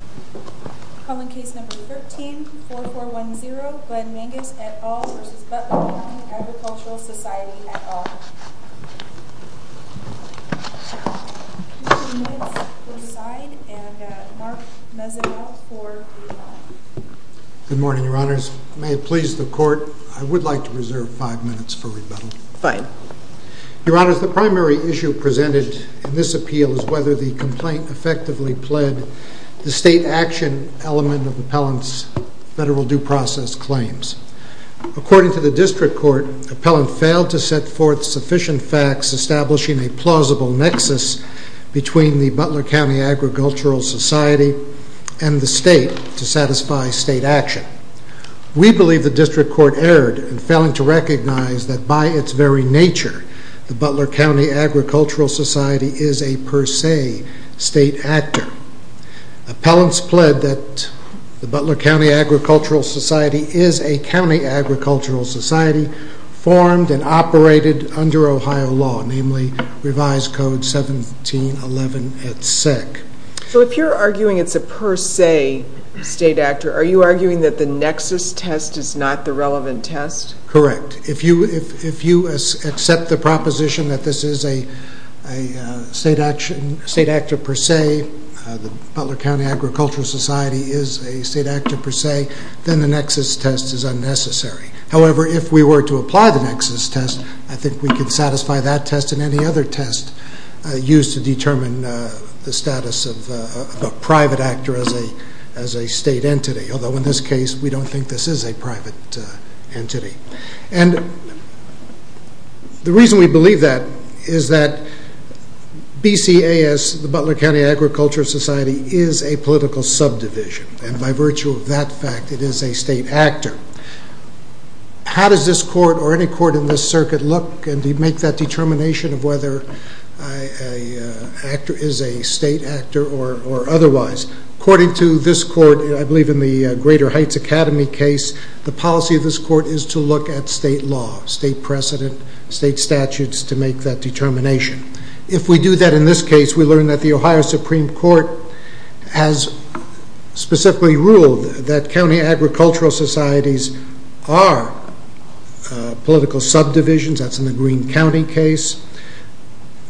Good morning, Your Honors. May it please the Court, I would like to reserve five minutes for rebuttal. Your Honors, the primary issue presented in this appeal is whether the complaint effectively pled the state action element of Appellant's federal due process claims. According to the District Court, Appellant failed to set forth sufficient facts establishing a plausible nexus between the Butler County Agricultural Society and the state to satisfy state action. We believe the District Court erred in failing to recognize that by its very nature, the Butler County Agricultural Society is a per se state actor. Appellants pled that the Butler County Agricultural Society is a county agricultural society formed and operated under Ohio law, namely Revised Code 1711 et sec. So if you're arguing it's a per se state actor, are you arguing that the nexus test is not the relevant test? Correct. If you accept the proposition that this is a state actor per se, the Butler County Agricultural Society is a state actor per se, then the nexus test is unnecessary. However, if we were to apply the nexus test, I think we could satisfy that test and any other test used to determine the status of a private actor as a state entity. Although in this case, we don't think this is a private entity. The reason we believe that is that BCAS, the Butler County Agricultural Society, is a political subdivision and by virtue of that fact it is a state actor. How does this court or any court in this circuit look and make that determination of whether an actor is a state actor or otherwise? According to this court, I believe in the Greater Heights Academy case, the policy of this court is to look at state law, state precedent, state statutes to make that determination. If we do that in this case, we learn that the Ohio Supreme Court has specifically ruled that county agricultural societies are political subdivisions. That's in the Greene County case.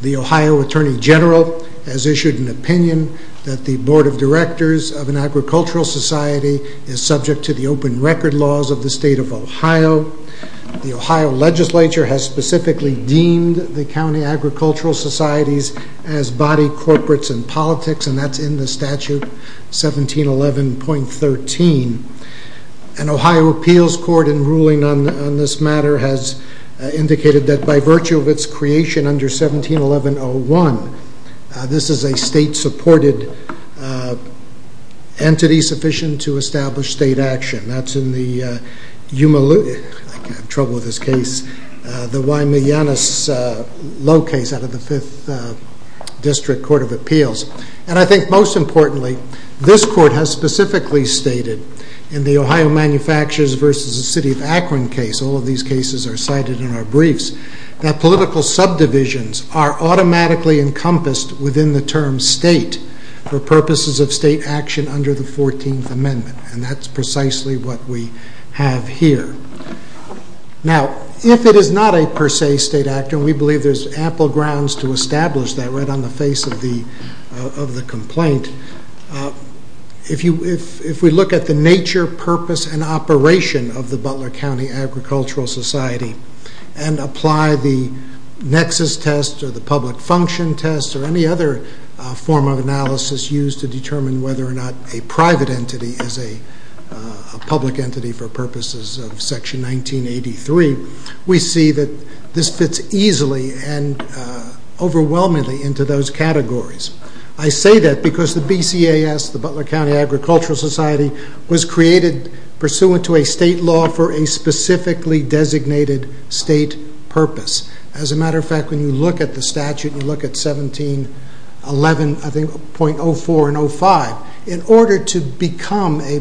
The Ohio Attorney General has issued an opinion that the board of directors of an agricultural society is subject to the open record laws of the state of Ohio. The Ohio legislature has specifically deemed the county agricultural societies as body corporates and politics and that's in the statute 1711.13. An Ohio appeals court in ruling on this matter has indicated that by virtue of its creation under 1711.01, this is a state supported entity sufficient to establish state action. That's in the, I'm having trouble with this case, the Wymyanus Low case out of the 5th District Court of Appeals. And I think most importantly, this court has specifically stated in the Ohio Manufacturers versus the City of Akron case, all of these cases are cited in our briefs, that political subdivisions are automatically encompassed within the term state for purposes of state action under the 14th Amendment. And that's precisely what we have here. Now, if it is not a per se state act and we believe there's ample grounds to establish that right on the face of the complaint, if we look at the nature, purpose, and operation of the Butler County Agricultural Society and apply the nexus test or the public function test or any other form of analysis used to determine whether or not a private entity is a public entity for purposes of Section 1983, we see that this fits easily and overwhelmingly into those categories. I say that because the BCAS, the Butler County Agricultural Society, was created pursuant to a state law for a specifically designated state purpose. As a matter of fact, when you look at the statute, you look at 1711.04 and 05, in order to become a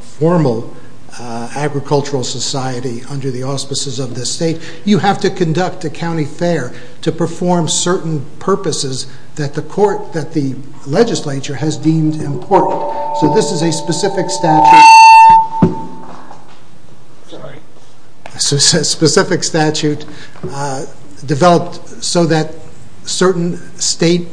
formal agricultural society under the auspices of the state, you have to conduct a county fair to perform certain purposes that the legislature has deemed important. So this is a specific statute developed so that certain state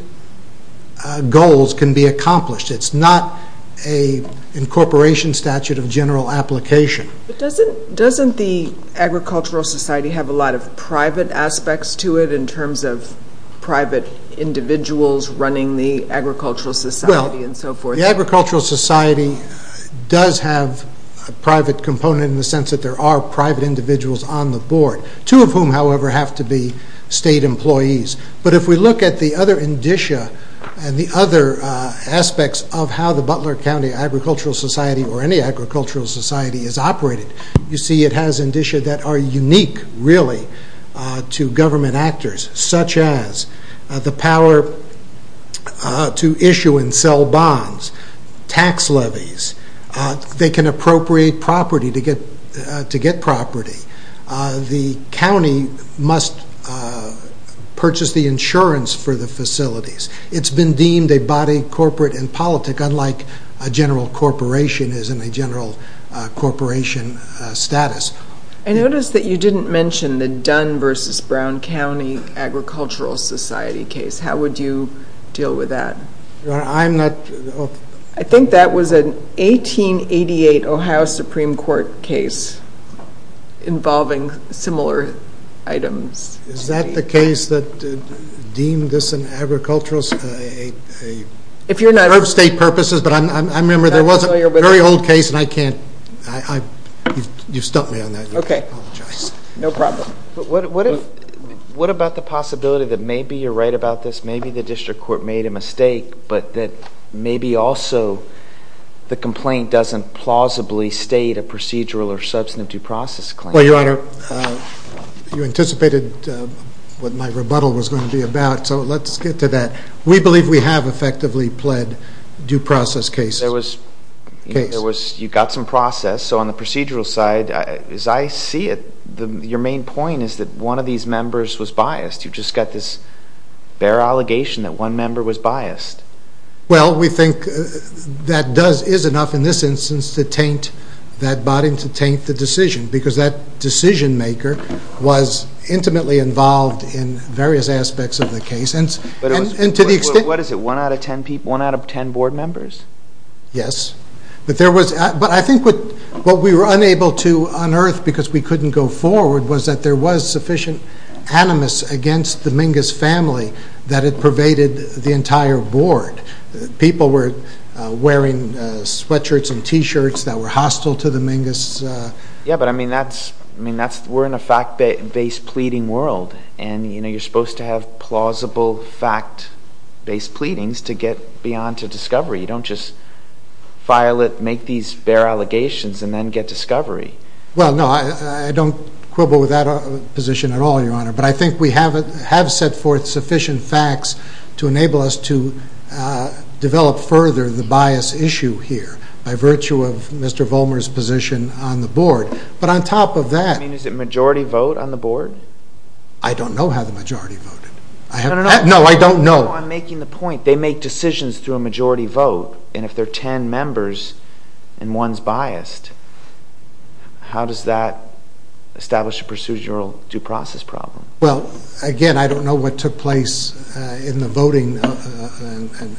goals can be accomplished. It's not an incorporation statute of general application. But doesn't the Agricultural Society have a lot of private aspects to it in terms of private individuals running the Agricultural Society and so forth? The Agricultural Society does have a private component in the sense that there are private individuals on the board, two of whom, however, have to be state employees. But if we look at the other indicia and the other aspects of how the Butler County Agricultural Society or any agricultural society is operated, you see it has indicia that are unique, really, to government actors, such as the power to issue and sell bonds, tax levies. They can appropriate property to get property. The county must purchase the insurance for the facilities. It's been deemed a body corporate and politic, unlike a general corporation is in a general corporation status. I noticed that you didn't mention the Dunn v. Brown County Agricultural Society case. How would you deal with that? I think that was an 1888 Ohio Supreme Court case involving similar items. Is that the case that deemed this an agricultural state purpose? I remember there was a very old case and I can't, you stumped me on that, I apologize. What about the possibility that maybe you're right about this, maybe the district court made a mistake, but that maybe also the complaint doesn't plausibly state a procedural or substantive due process claim? Well, Your Honor, you anticipated what my rebuttal was going to be about, so let's get to that. We believe we have effectively pled due process cases. There was, you got some process, so on the procedural side, as I see it, your main point is that one of these members was biased. You've just got this bare allegation that one member was biased. Well, we think that is enough in this instance to taint that body and to taint the decision, because that decision maker was intimately involved in various aspects of the case. What is it, one out of ten board members? Yes, but I think what we were unable to unearth because we couldn't go forward was that there was sufficient animus against the Mingus family that it pervaded the entire board. People were wearing sweatshirts and t-shirts that were hostile to the Mingus. Yes, but I mean, we're in a fact-based pleading world, and you're supposed to have plausible fact-based pleadings to get beyond to discovery. You don't just file it, make these bare allegations, and then get discovery. Well, no, I don't quibble with that position at all, Your Honor, but I think we have set forth sufficient facts to enable us to develop further the bias issue here by virtue of Mr. Mingus being on the board. But on top of that... You mean, is it majority vote on the board? I don't know how the majority voted. No, no, no. No, I don't know. No, I'm making the point. They make decisions through a majority vote, and if there are ten members and one is biased, how does that establish a procedural due process problem? Well, again, I don't know what took place in the voting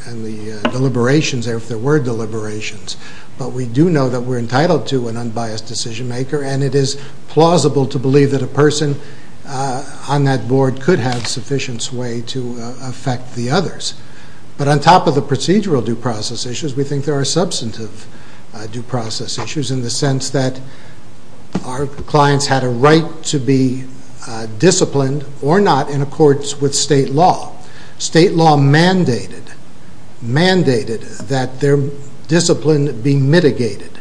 and the deliberations there, if there were deliberations, but we do know that we're entitled to an unbiased decision maker, and it is plausible to believe that a person on that board could have sufficient sway to affect the others. But on top of the procedural due process issues, we think there are substantive due process issues in the sense that our clients had a right to be disciplined or not in accordance with state law. State law mandated that their discipline be mitigated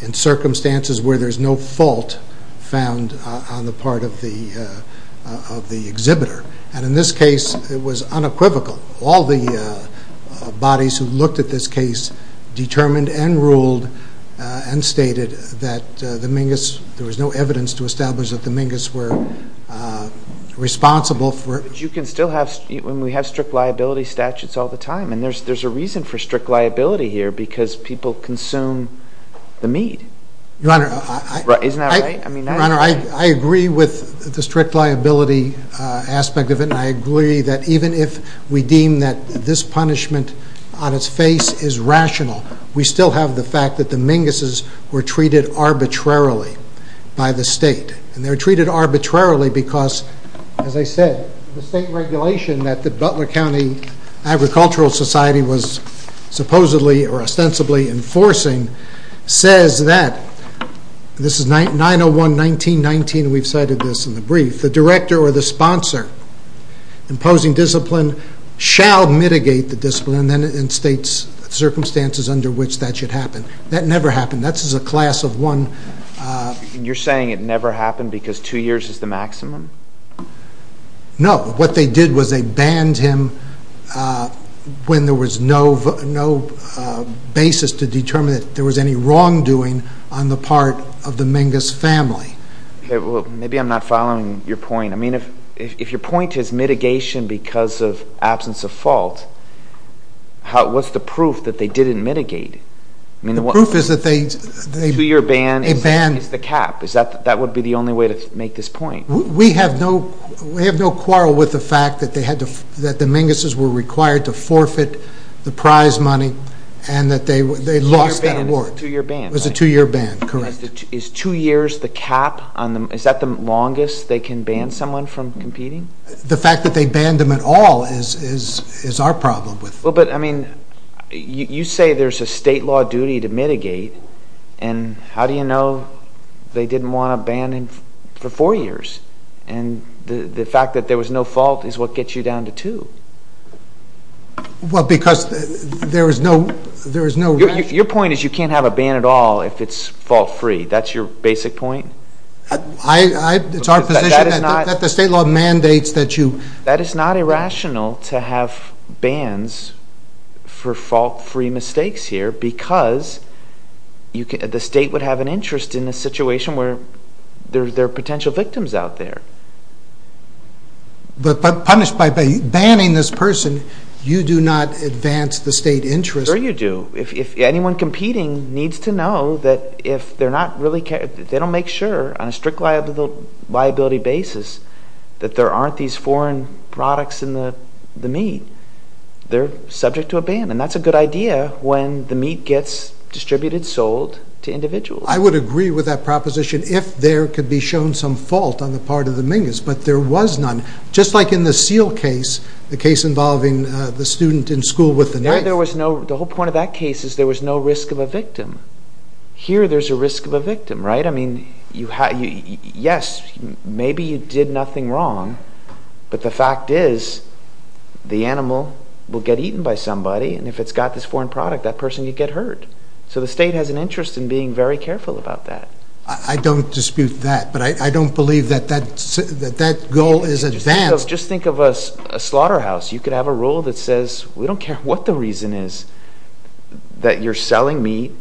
in circumstances where there's no fault found on the part of the exhibitor, and in this case it was unequivocal. All the bodies who looked at this case determined and ruled and You can still have, and we have strict liability statutes all the time, and there's a reason for strict liability here because people consume the mead. Your Honor, I agree with the strict liability aspect of it, and I agree that even if we deem that this punishment on its face is rational, we still have the fact that the minguses were treated arbitrarily because, as I said, the state regulation that the Butler County Agricultural Society was supposedly or ostensibly enforcing says that, this is 901.19.19, we've cited this in the brief, the director or the sponsor imposing discipline shall mitigate the discipline in state circumstances under which that should happen. That never happened. That is a class of one. You're saying it never happened because two years is the maximum? No. What they did was they banned him when there was no basis to determine that there was any wrongdoing on the part of the mingus family. Maybe I'm not following your point. If your point is mitigation because of absence of fault, what's the proof that they didn't mitigate? The proof is that a two-year ban is the cap. That would be the only way to make this point. We have no quarrel with the fact that the minguses were required to forfeit the prize money and that they lost that award. It was a two-year ban, correct. Is two years the cap? Is that the longest they can ban someone from competing? The fact that they banned them at all is our duty to mitigate. How do you know they didn't want to ban him for four years? The fact that there was no fault is what gets you down to two. Your point is you can't have a ban at all if it's fault-free. That's your basic point? It's our position that the state law because the state would have an interest in a situation where there are potential victims out there. But punished by banning this person, you do not advance the state interest. Sure you do. If anyone competing needs to know that if they're not really, they don't make sure on a strict liability basis that there aren't these foreign products in the meat, they're subject to a ban. That's a good idea when the meat gets distributed, sold to individuals. I would agree with that proposition if there could be shown some fault on the part of the mingus, but there was none. Just like in the seal case, the case involving the student in school with the knife. The whole point of that case is there was no risk of a victim. Here there's a risk of a victim. Yes, maybe you did nothing wrong, but the fact is the animal will get eaten by somebody, and if it's got this foreign product, that person could get hurt. So the state has an interest in being very careful about that. I don't dispute that, but I don't believe that that goal is advanced. Just think of a slaughterhouse. You could have a rule that says we don't care what the reason is that you're selling meat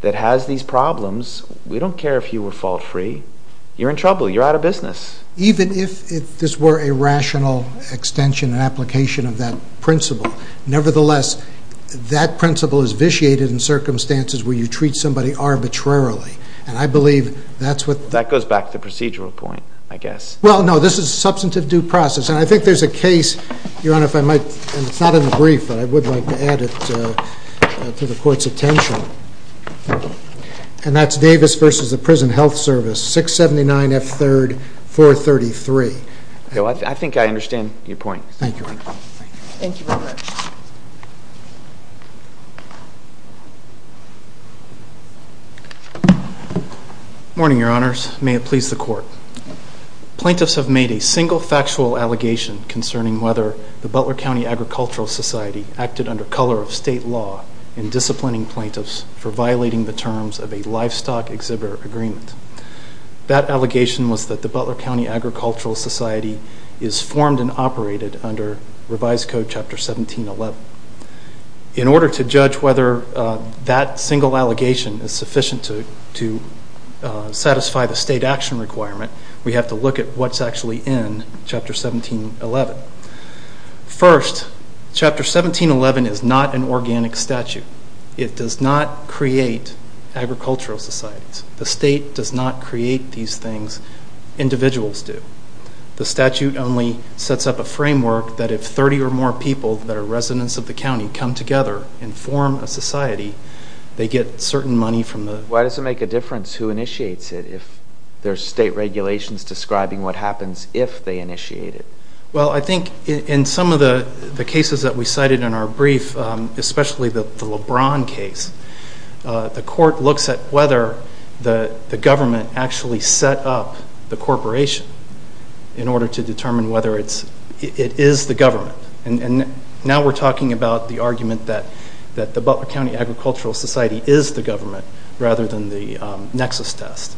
that has these problems. We don't care if you were fault-free. You're in trouble. You're out of business. Even if this were a rational extension and application of that principle, nevertheless, that principle is vitiated in circumstances where you treat somebody arbitrarily. That goes back to the procedural point, I guess. Well, no. This is a substantive due process, and I think there's a case, Your Honor, if I might, and it's not in the brief, but I would like to add it to the Court's 33. I think I understand your point. Thank you, Your Honor. Morning, Your Honors. May it please the Court. Plaintiffs have made a single factual allegation concerning whether the Butler County Agricultural Society acted under color of state law in disciplining plaintiffs for violating the terms of a livestock exhibitor agreement. That allegation was that the Butler County Agricultural Society is formed and operated under revised Code Chapter 1711. In order to judge whether that single allegation is sufficient to satisfy the state action requirement, we have to look at what's actually in Chapter 1711. First, Chapter 1711 is not an organic statute. It does not create agricultural societies. The state does not create these things. Individuals do. The statute only sets up a framework that if 30 or more people that are residents of the county come together and form a society, they get certain money from the— Why does it make a difference who initiates it if there's state regulations describing what happens if they initiate it? Well, I think in some of the cases that we cited in our brief, especially the LeBron case, the court looks at whether the government actually set up the corporation in order to determine whether it is the government. And now we're talking about the argument that the Butler County Agricultural Society is the government rather than the nexus test.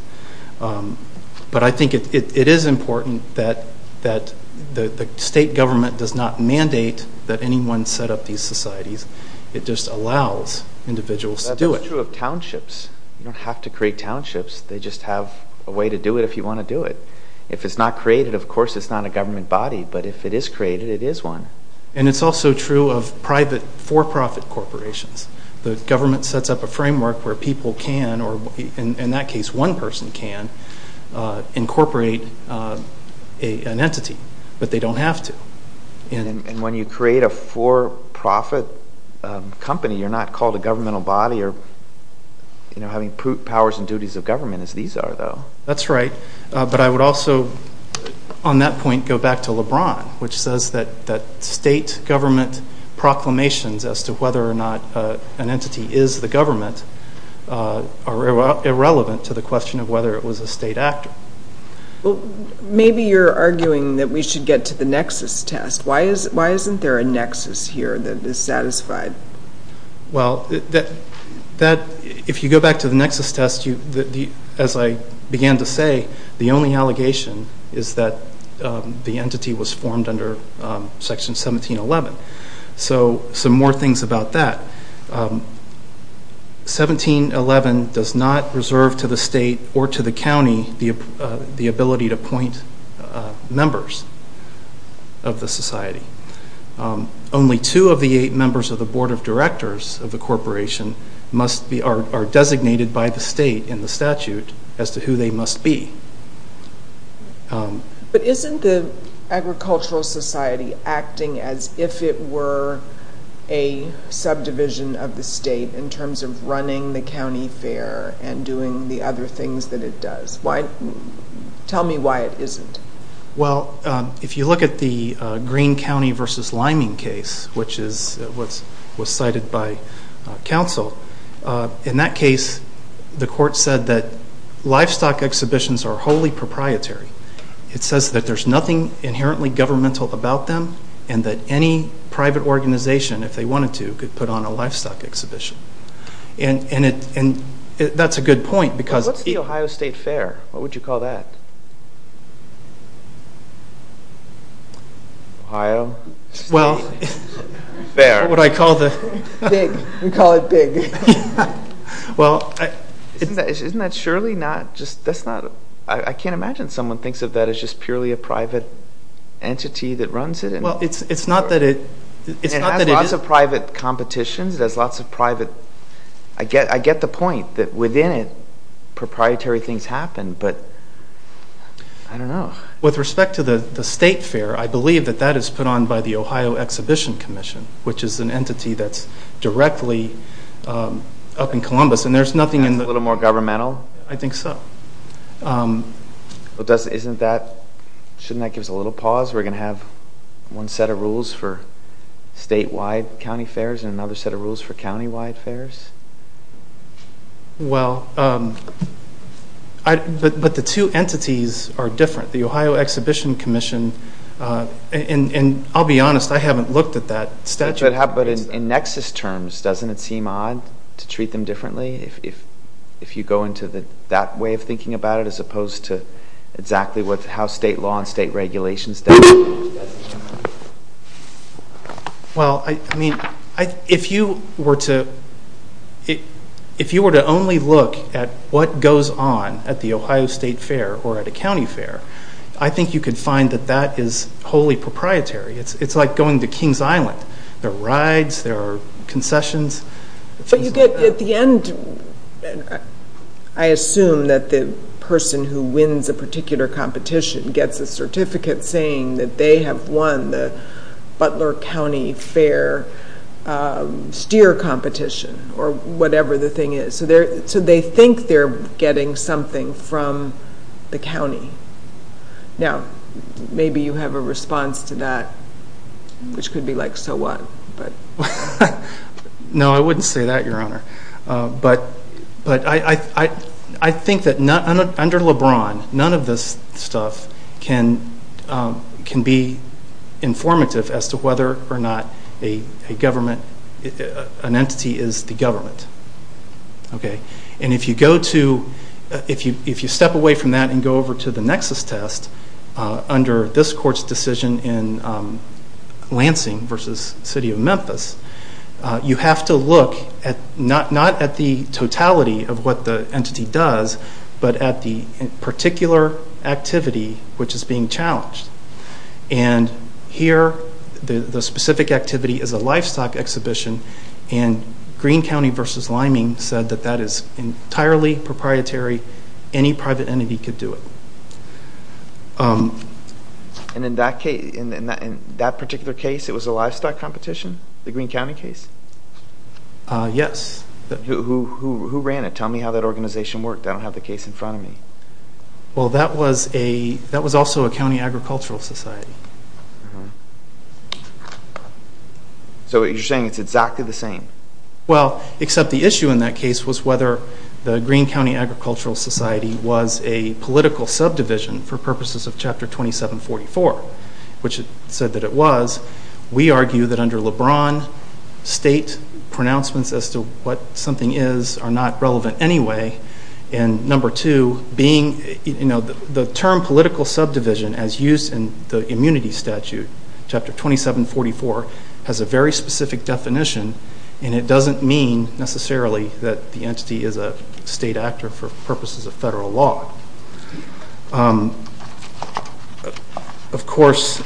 But I think it is important that the state government does not mandate that anyone set up these societies. It just allows individuals to do it. That's true of townships. You don't have to create townships. They just have a way to do it if you want to do it. If it's not created, of course it's not a government body. But if it is created, it is one. And it's also true of private for-profit corporations. The government sets up a framework where people can, or in that case one person can, incorporate an entity. But they don't have to. And when you create a for-profit company, you're not called a governmental body or having powers and duties of government as these are, though. That's right. But I would also, on that point, go back to LeBron, which says that state government proclamations as to whether or not an entity is the government are irrelevant to the question of whether it was a state actor. Well, maybe you're arguing that we should get to the nexus test. Why isn't there a nexus here that is satisfied? Well, if you go back to the nexus test, as I began to say, the only allegation is that the entity was formed under Section 1711. So some more things about that. 1711 does not reserve to the state or to the county the ability to appoint members of the society. Only two of the eight members of the Board of Directors of the corporation are designated by the state in the statute as to who they must be. But isn't the Agricultural Society acting as if it were a subdivision of the state in terms of running the county fair and doing the other things that it does? Tell me why it isn't. Well, if you look at the Greene County versus Liming case, which was cited by Livestock Exhibitions are wholly proprietary. It says that there's nothing inherently governmental about them and that any private organization, if they wanted to, could put on a Livestock Exhibition. And that's a good point because... What's the Ohio State Fair? What would you call that? Ohio State Fair. What I call the... Big. We call it big. Isn't that surely not just... I can't imagine someone thinks of that as just purely a private entity that runs it. Well, it's not that it... It has lots of private competitions. It has lots of private... I get the point that within it, proprietary things happen, but I don't know. With respect to the state fair, I believe that that is put on by the Ohio Exhibition Commission, which is an entity that's directly up in Columbus, and there's nothing in the... That's a little more governmental? I think so. Shouldn't that give us a little pause? We're going to have one set of rules for statewide county fairs and another set of rules for countywide fairs? Well, but the two entities are different. The Ohio Exhibition Commission, and I'll be honest, I haven't looked at that statute. But in nexus terms, doesn't it seem odd to treat them differently if you go into that way of thinking about it as opposed to exactly how state law and state regulations... Well, if you were to only look at what goes on at the Ohio State Fair or at a county fair, I think you could find that that is wholly proprietary. It's like going to King's Island. There are rides, there are concessions. But you get at the end... I assume that the person who wins a particular competition gets a certificate saying that they have won the Butler County Fair steer competition or whatever the thing is. So they think they're getting something from the county. Now, maybe you have a response to that, which could be like, so what? No, I wouldn't say that, Your Honor. But I think that under LeBron, none of this stuff can be informative as to whether or not an entity is the government. Okay. And if you go to... If you step away from that and go over to the nexus test under this court's decision in Lansing versus City of Memphis, you have to look not at the totality of what the entity does, but at the particular activity which is being challenged. And here, the specific activity is a livestock exhibition, and Greene County versus Liming said that that is entirely proprietary. Any private entity could do it. And in that particular case, it was a livestock competition, the Greene County case? Yes. Who ran it? Tell me how that organization worked. I don't have the case in front of me. Well, that was also a county agricultural society. So you're saying it's exactly the same? Well, except the issue in that case was whether the Greene County Agricultural Society was a political subdivision for purposes of Chapter 2744, which it said that it was. We argue that under LeBron, state pronouncements as to what something is are not relevant anyway. And number two, being... The term political subdivision as used in the immunity statute, Chapter 2744, has a very specific definition, and it doesn't mean necessarily that the entity is a state actor for purposes of federal law. Of course,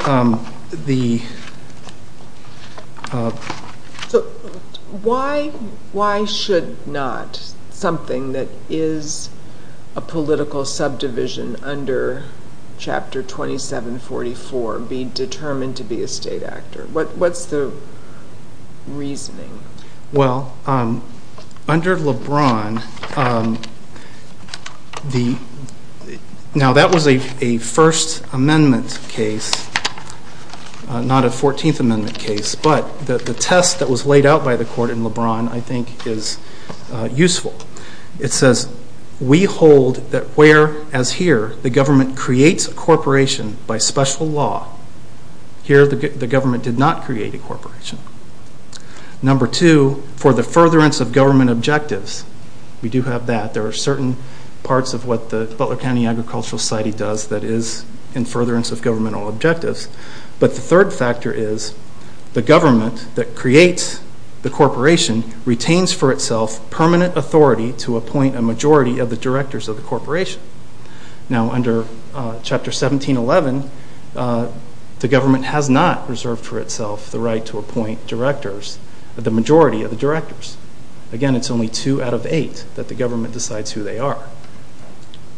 the... So why should not something that is a political subdivision under Chapter 2744 be determined to be a state actor? What's the reasoning? Well, under LeBron, now that was a First Amendment case, not a Fourteenth Amendment case, but the test that was laid out by the court in LeBron, I think, is useful. It says, we hold that where, as here, the government creates a corporation by special law, here the government did not create a corporation. Number two, for the furtherance of government objectives, we do have that. There are certain parts of what the Butler County Agricultural Society does that is in furtherance of governmental objectives, but the third factor is the government that creates the corporation retains for itself permanent authority to appoint a majority of the directors of the corporation. Now, under Chapter 1711, the government has not reserved for itself the right to appoint directors, the majority of the directors. Again, it's only two out of eight that the government decides who they are,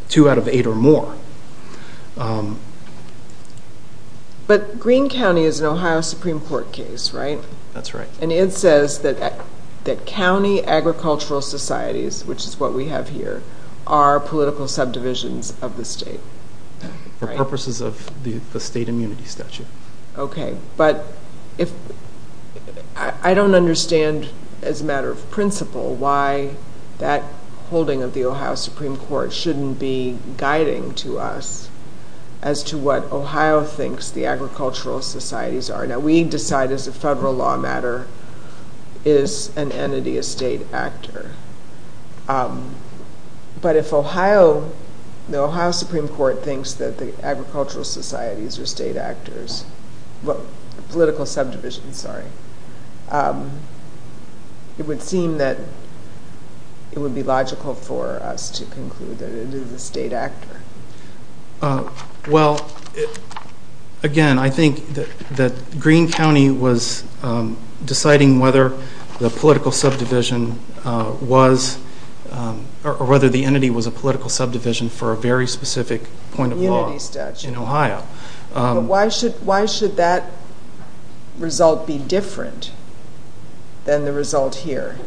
two out of eight or more. But Greene County is an Ohio Supreme Court case, right? That's right. And it says that that county agricultural societies, which is what we have here, are political subdivisions of the state. For purposes of the state immunity statute. Okay, but I don't understand as a matter of holding of the Ohio Supreme Court shouldn't be guiding to us as to what Ohio thinks the agricultural societies are. Now, we decide as a federal law matter is an entity a state actor, but if Ohio, the Ohio Supreme Court thinks that the agricultural societies are state actors, but political subdivisions, sorry, it would seem that it would be logical for us to conclude that it is a state actor. Well, again, I think that Greene County was deciding whether the political subdivision was, or whether the entity was a political subdivision for a very specific point in Ohio. Why should that result be different than the result here?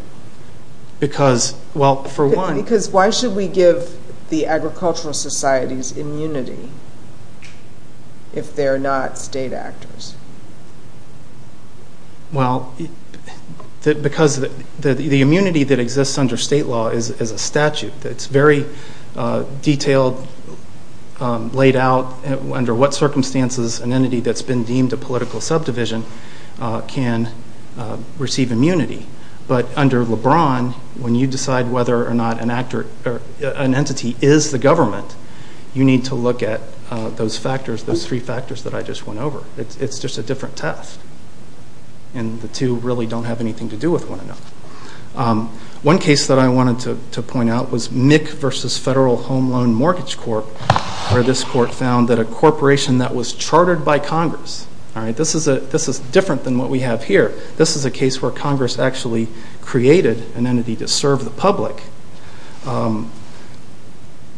Because why should we give the agricultural societies immunity if they're not state actors? Well, because the immunity that exists under state law is a statute that's very detailed laid out under what circumstances an entity that's been deemed a political subdivision can receive immunity. But under LeBron, when you decide whether or not an entity is the government, you need to look at those factors, those three factors that I just went over. It's just a different test, and the two really don't have anything to do with one another. One case that I found that a corporation that was chartered by Congress, this is different than what we have here. This is a case where Congress actually created an entity to serve the public.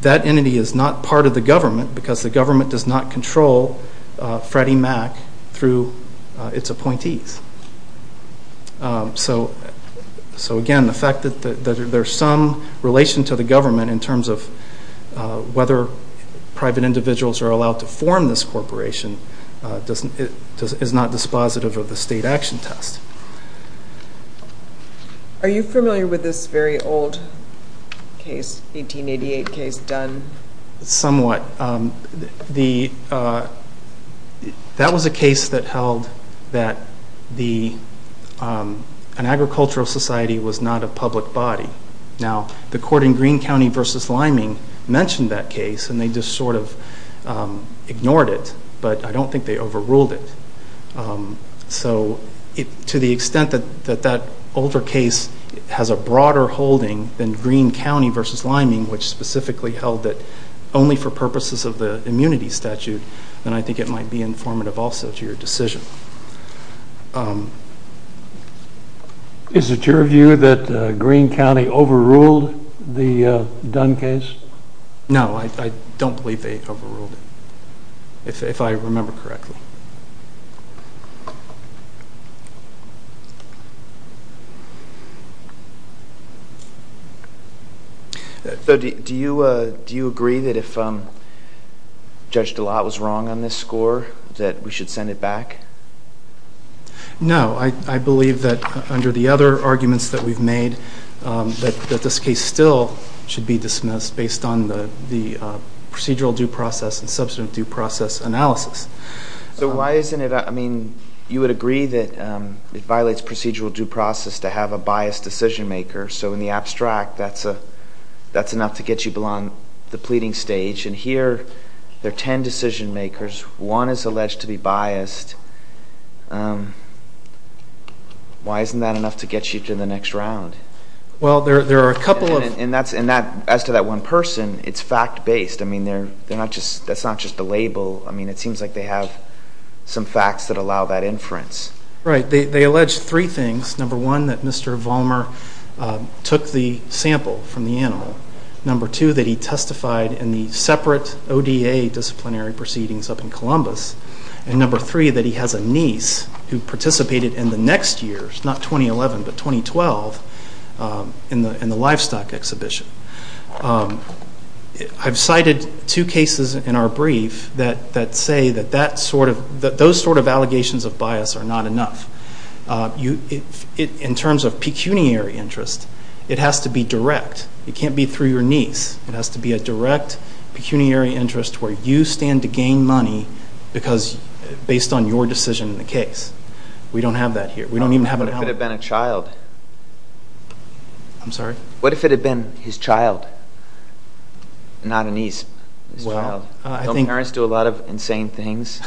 That entity is not part of the government because the government does not control Freddie Mac through its appointees. So, again, the fact that there's some relation to the form this corporation is not dispositive of the state action test. Are you familiar with this very old case, 1888 case, Dunn? Somewhat. That was a case that held that an agricultural society was not a public body. Now, the court in Greene County v. Liming mentioned that case, and they just sort of ignored it, but I don't think they overruled it. So, to the extent that that older case has a broader holding than Greene County v. Liming, which specifically held that only for purposes of the immunity statute, then I think it might be informative also to your decision. Is it your view that Greene County overruled the Dunn case? No, I don't believe they overruled it, if I remember correctly. So, do you agree that if Judge Dallat was wrong on this score that we should send it back? No. I believe that under the other arguments that we've made, that this case still should be dismissed based on the procedural due process and substantive due process analysis. So, why isn't it? I mean, you would agree that it violates procedural due process to have a biased decision maker. So, in the abstract, that's enough to get you below the pleading stage, and here there are 10 decision makers. One is alleged to be biased. Why isn't that enough to get you to the next round? Well, there are a couple of... And as to that one person, it's fact-based. I mean, that's not just a label. I mean, it seems like they have some facts that allow that inference. Right. They allege three things. Number one, that Mr. Vollmer took the sample from the animal. Number two, that he testified in the separate ODA disciplinary proceedings up in Columbus. And number three, that he has a niece who participated in the next year's, not 2011, but 2012 in the livestock exhibition. I've cited two cases in our brief that say that those sort of allegations of bias are not enough. In terms of pecuniary interest, it has to be direct. It can't be through your niece. It has to be a direct pecuniary interest where you stand to gain money based on your decision in the case. We don't have that here. What if it had been a child? I'm sorry? What if it had been his child, not a niece? Don't parents do a lot of insane things?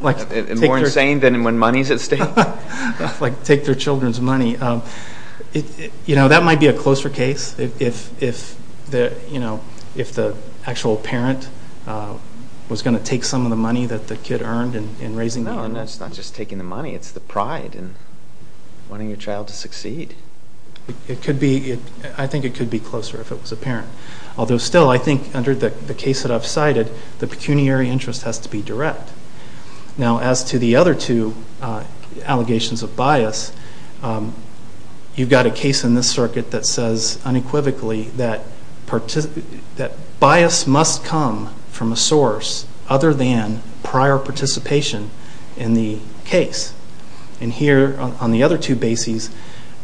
More insane than when money's at stake? Like take their children's money. You know, that might be a closer case if the actual parent was going to take some of the money that the kid earned in raising them. No, it's not just taking the money. It's the pride in wanting your child to succeed. I think it could be closer if it was a parent. Although still, I think under the case that I've Now, as to the other two allegations of bias, you've got a case in this circuit that says unequivocally that bias must come from a source other than prior participation in the case. And here on the other two bases,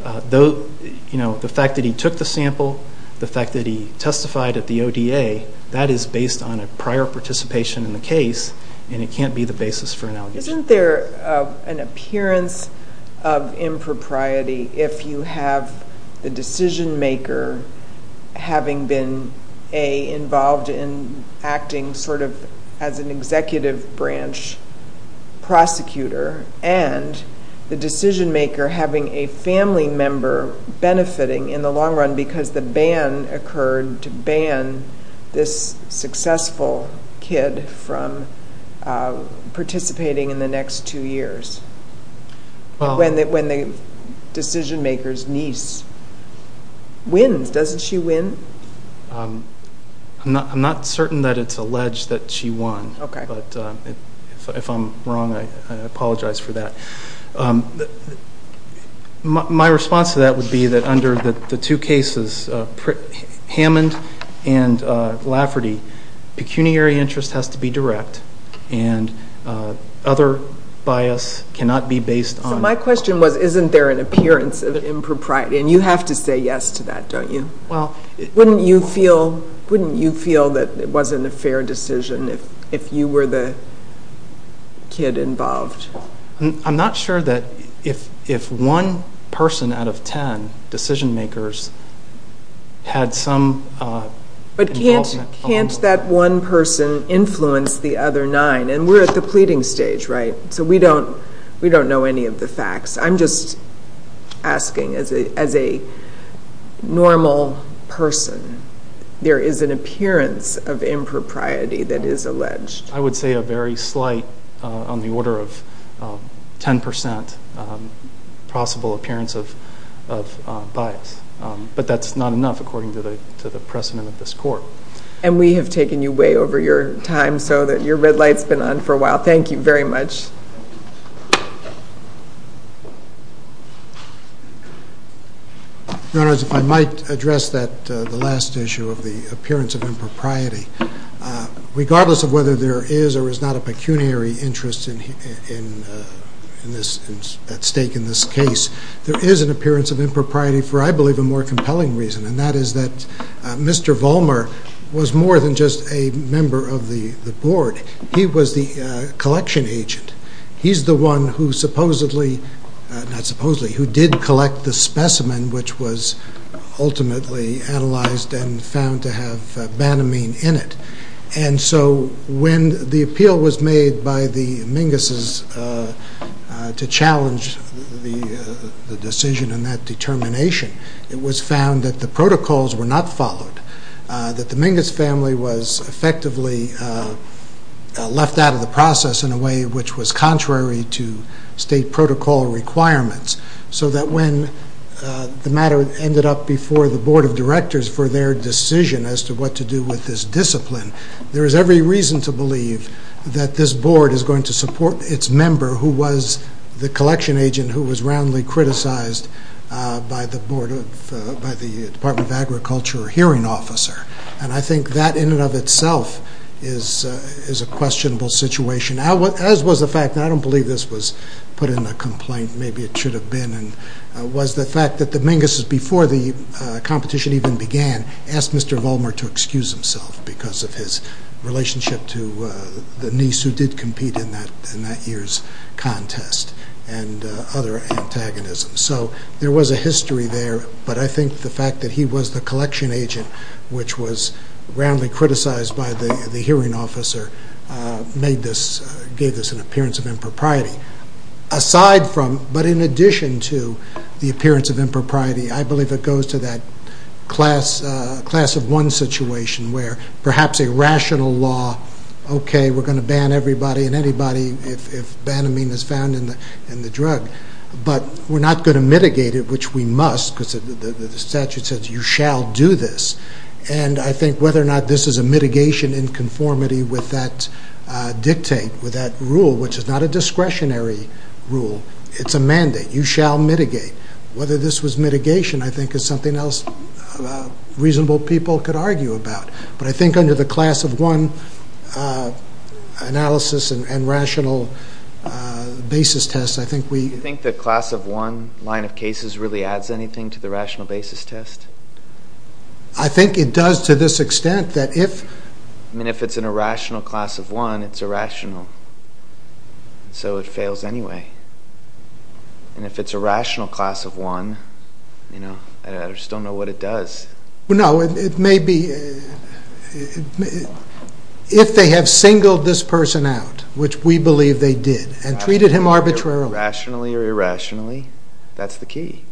the fact that he took the sample, the fact that he testified at the ODA, that is based on a prior participation in the case and it can't be the basis for an allegation. Isn't there an appearance of impropriety if you have the decision maker having been involved in acting sort of as an executive branch prosecutor and the decision maker having a family member benefiting in the long run because the ban occurred to ban this successful kid from participating in the next two years? When the decision maker's niece wins, doesn't she win? I'm not certain that it's alleged that she won, but if I'm wrong, I apologize for that. But my response to that would be that under the two cases, Hammond and Lafferty, pecuniary interest has to be direct and other bias cannot be based on... So my question was, isn't there an appearance of impropriety? And you have to say yes to that, don't you? Well... Wouldn't you feel that it wasn't a fair decision if you were the kid involved? I'm not sure that if one person out of 10 decision makers had some involvement... But can't that one person influence the other nine? And we're at the pleading stage, right? So we don't know any of the facts. I'm just asking as a normal person, there is an appearance of impropriety that is alleged. I would say a very slight, on the order of 10%, possible appearance of bias. But that's not enough according to the precedent of this court. And we have taken you way over your time so that your red light's been on for a while. Thank you very much. Your Honor, if I might address the last issue of the appearance of impropriety. Regardless of whether there is or is not a pecuniary interest at stake in this case, there is an appearance of impropriety for, I believe, a more compelling reason. And that is that Mr. Vollmer was more than just a member of the board. He was the collection agent. He's the one who supposedly, not supposedly, who did collect the specimen which was And so when the appeal was made by the Mingus' to challenge the decision and that determination, it was found that the protocols were not followed, that the Mingus family was effectively left out of the process in a way which was contrary to state protocol requirements. So that when the matter ended up before the board of directors for their decision as to what to do with this discipline, there is every reason to believe that this board is going to support its member who was the collection agent who was roundly criticized by the Department of Agriculture hearing officer. And I think that in and of itself is a questionable situation, as was the fact, and I don't believe this was put in a complaint, maybe it should have been, and was the fact that the Mingus' before the competition even began, asked Mr. Vollmer to excuse himself because of his relationship to the niece who did compete in that year's contest and other antagonisms. So there was a history there, but I think the fact that he was the collection agent which was roundly criticized by the hearing officer gave this an appearance of impropriety. Aside from, but in addition to the appearance of impropriety, I believe it goes to that class of one situation where perhaps a rational law, okay, we're going to ban everybody and anybody if banamine is found in the drug, but we're not going to mitigate it, which we must, because the statute says you shall do this, and I think whether or not this is a mitigation in conformity with that dictate, with that rule, which is not a discretionary rule, it's a mandate, you shall mitigate. Whether this was mitigation, I think, is something else reasonable people could argue about, but I think under the class of one analysis and rational basis test, I think we... Do you think the class of one line of cases really adds anything to the rational basis test? I think it does to this extent that if... I mean, if it's an irrational class of one, it's irrational, so it fails anyway, and if it's a rational class of one, you know, I just don't know what it does. Well, no, it may be... If they have singled this person out, which we believe they did, and treated him arbitrarily... Rationally or irrationally, that's the key.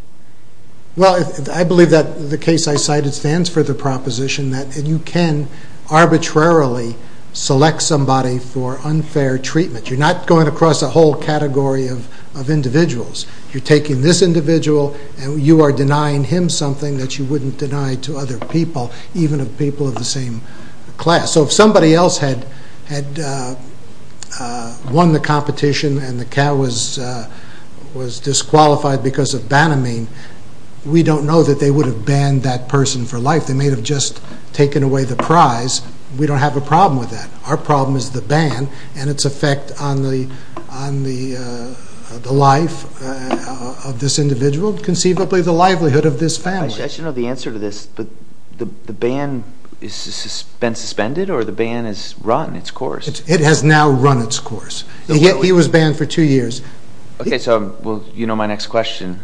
Well, I believe that the case I cited stands for the proposition that you can arbitrarily select somebody for unfair treatment. You're not going across a whole category of individuals. You're taking this individual, and you are denying him something that you wouldn't deny to other people, even people of the same class. So if somebody else had won the competition, and the cat was disqualified because of banamine, we don't know that they would have banned that person for life. They may have just taken away the prize. We don't have a problem with that. Our problem is the ban and its effect on the life of this individual, conceivably the livelihood of this family. I should know the answer to this, but the ban has been suspended, or the ban has run its course? It has now run its course. He was banned for two years. Okay, so you know my next question.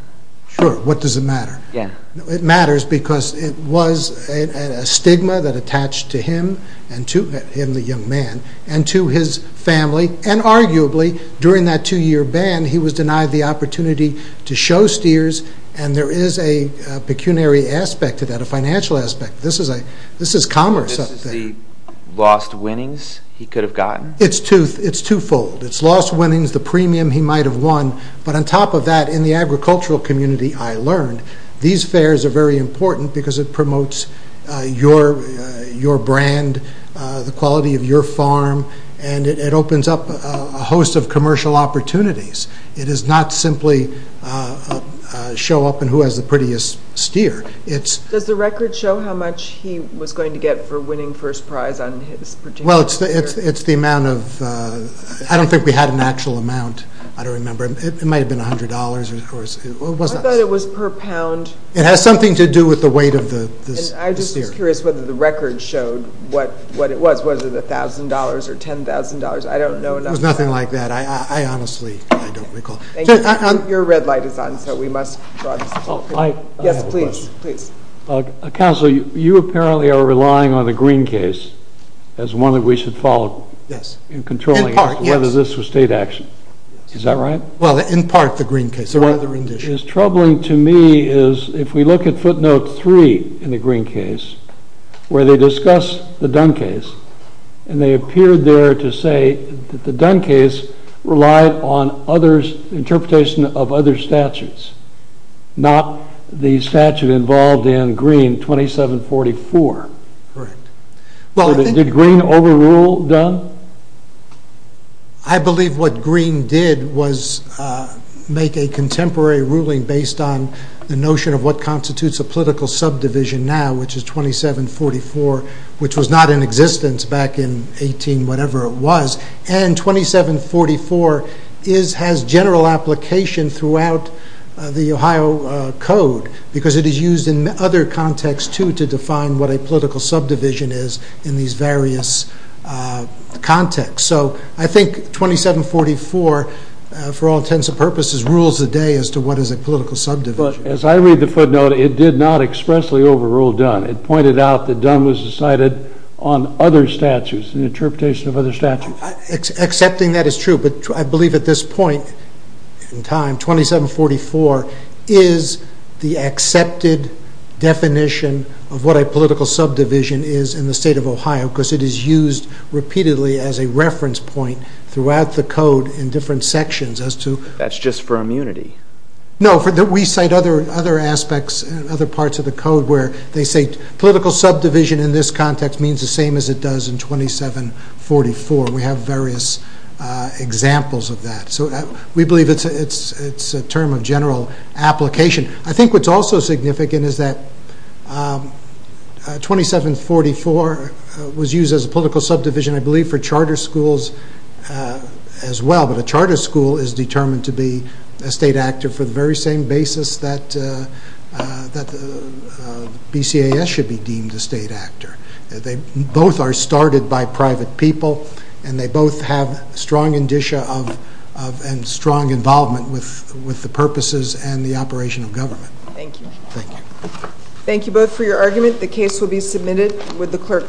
Sure, what does it matter? Yeah. It matters because it was a stigma that attached to him, the young man, and to his family. And arguably, during that two-year ban, he was denied the opportunity to show steers, and there is a pecuniary aspect to that, a financial aspect. This is commerce. This is the lost winnings he could have gotten? It's twofold. It's lost winnings, the premium he might have won, but on top of that, in the agricultural community, I learned these fairs are very important because it promotes your brand, the quality of your farm, and it opens up a host of commercial opportunities. It does not simply show up in who has the prettiest steer. Does the record show how much he was going to get for winning first prize on his particular steer? Well, it's the amount of... I don't think we had an actual amount. I don't remember. It might have been $100, or it wasn't. I thought it was per pound. It has something to do with the weight of the steer. I'm just curious whether the record showed what it was. Was it $1,000 or $10,000? I don't know enough. It was nothing like that. I honestly don't recall. Thank you. Your red light is on, so we must... Yes, please, please. Counselor, you apparently are relying on the Greene case as one that we should follow. Yes. In controlling whether this was state action. Is that right? Well, in part, the Greene case. What is troubling to me is if we look at footnote three in the Greene case, where they discuss the Dunn case, and they appeared there to say that the Dunn case relied on interpretation of other statutes, not the statute involved in Greene 2744. Correct. So did Greene overrule Dunn? I believe what Greene did was make a contemporary ruling based on the notion of what constitutes a political subdivision now, which is 2744, which was not in existence back in 18-whatever it was. And 2744 has general application throughout the Ohio Code, because it is used in other contexts, too, to define what a political subdivision is in these various contexts. So I think 2744, for all intents and purposes, rules the day as to what is a political subdivision. But as I read the footnote, it did not expressly overrule Dunn. It pointed out that Dunn was decided on other statutes, an interpretation of other statutes. Accepting that is true. I believe at this point in time, 2744 is the accepted definition of what a political subdivision is in the state of Ohio, because it is used repeatedly as a reference point throughout the Code in different sections as to- That's just for immunity. No, we cite other aspects, other parts of the Code where they say political subdivision in this context means the same as it does in 2744. We have various examples of that. So we believe it's a term of general application. I think what's also significant is that 2744 was used as a political subdivision, I believe, for charter schools as well. But a charter school is determined to be a state actor for the very same basis that BCAS should be deemed a state actor. They both are started by private people, and they both have strong indicia and strong involvement with the purposes and the operation of government. Thank you. Thank you both for your argument. The case will be submitted with the clerk.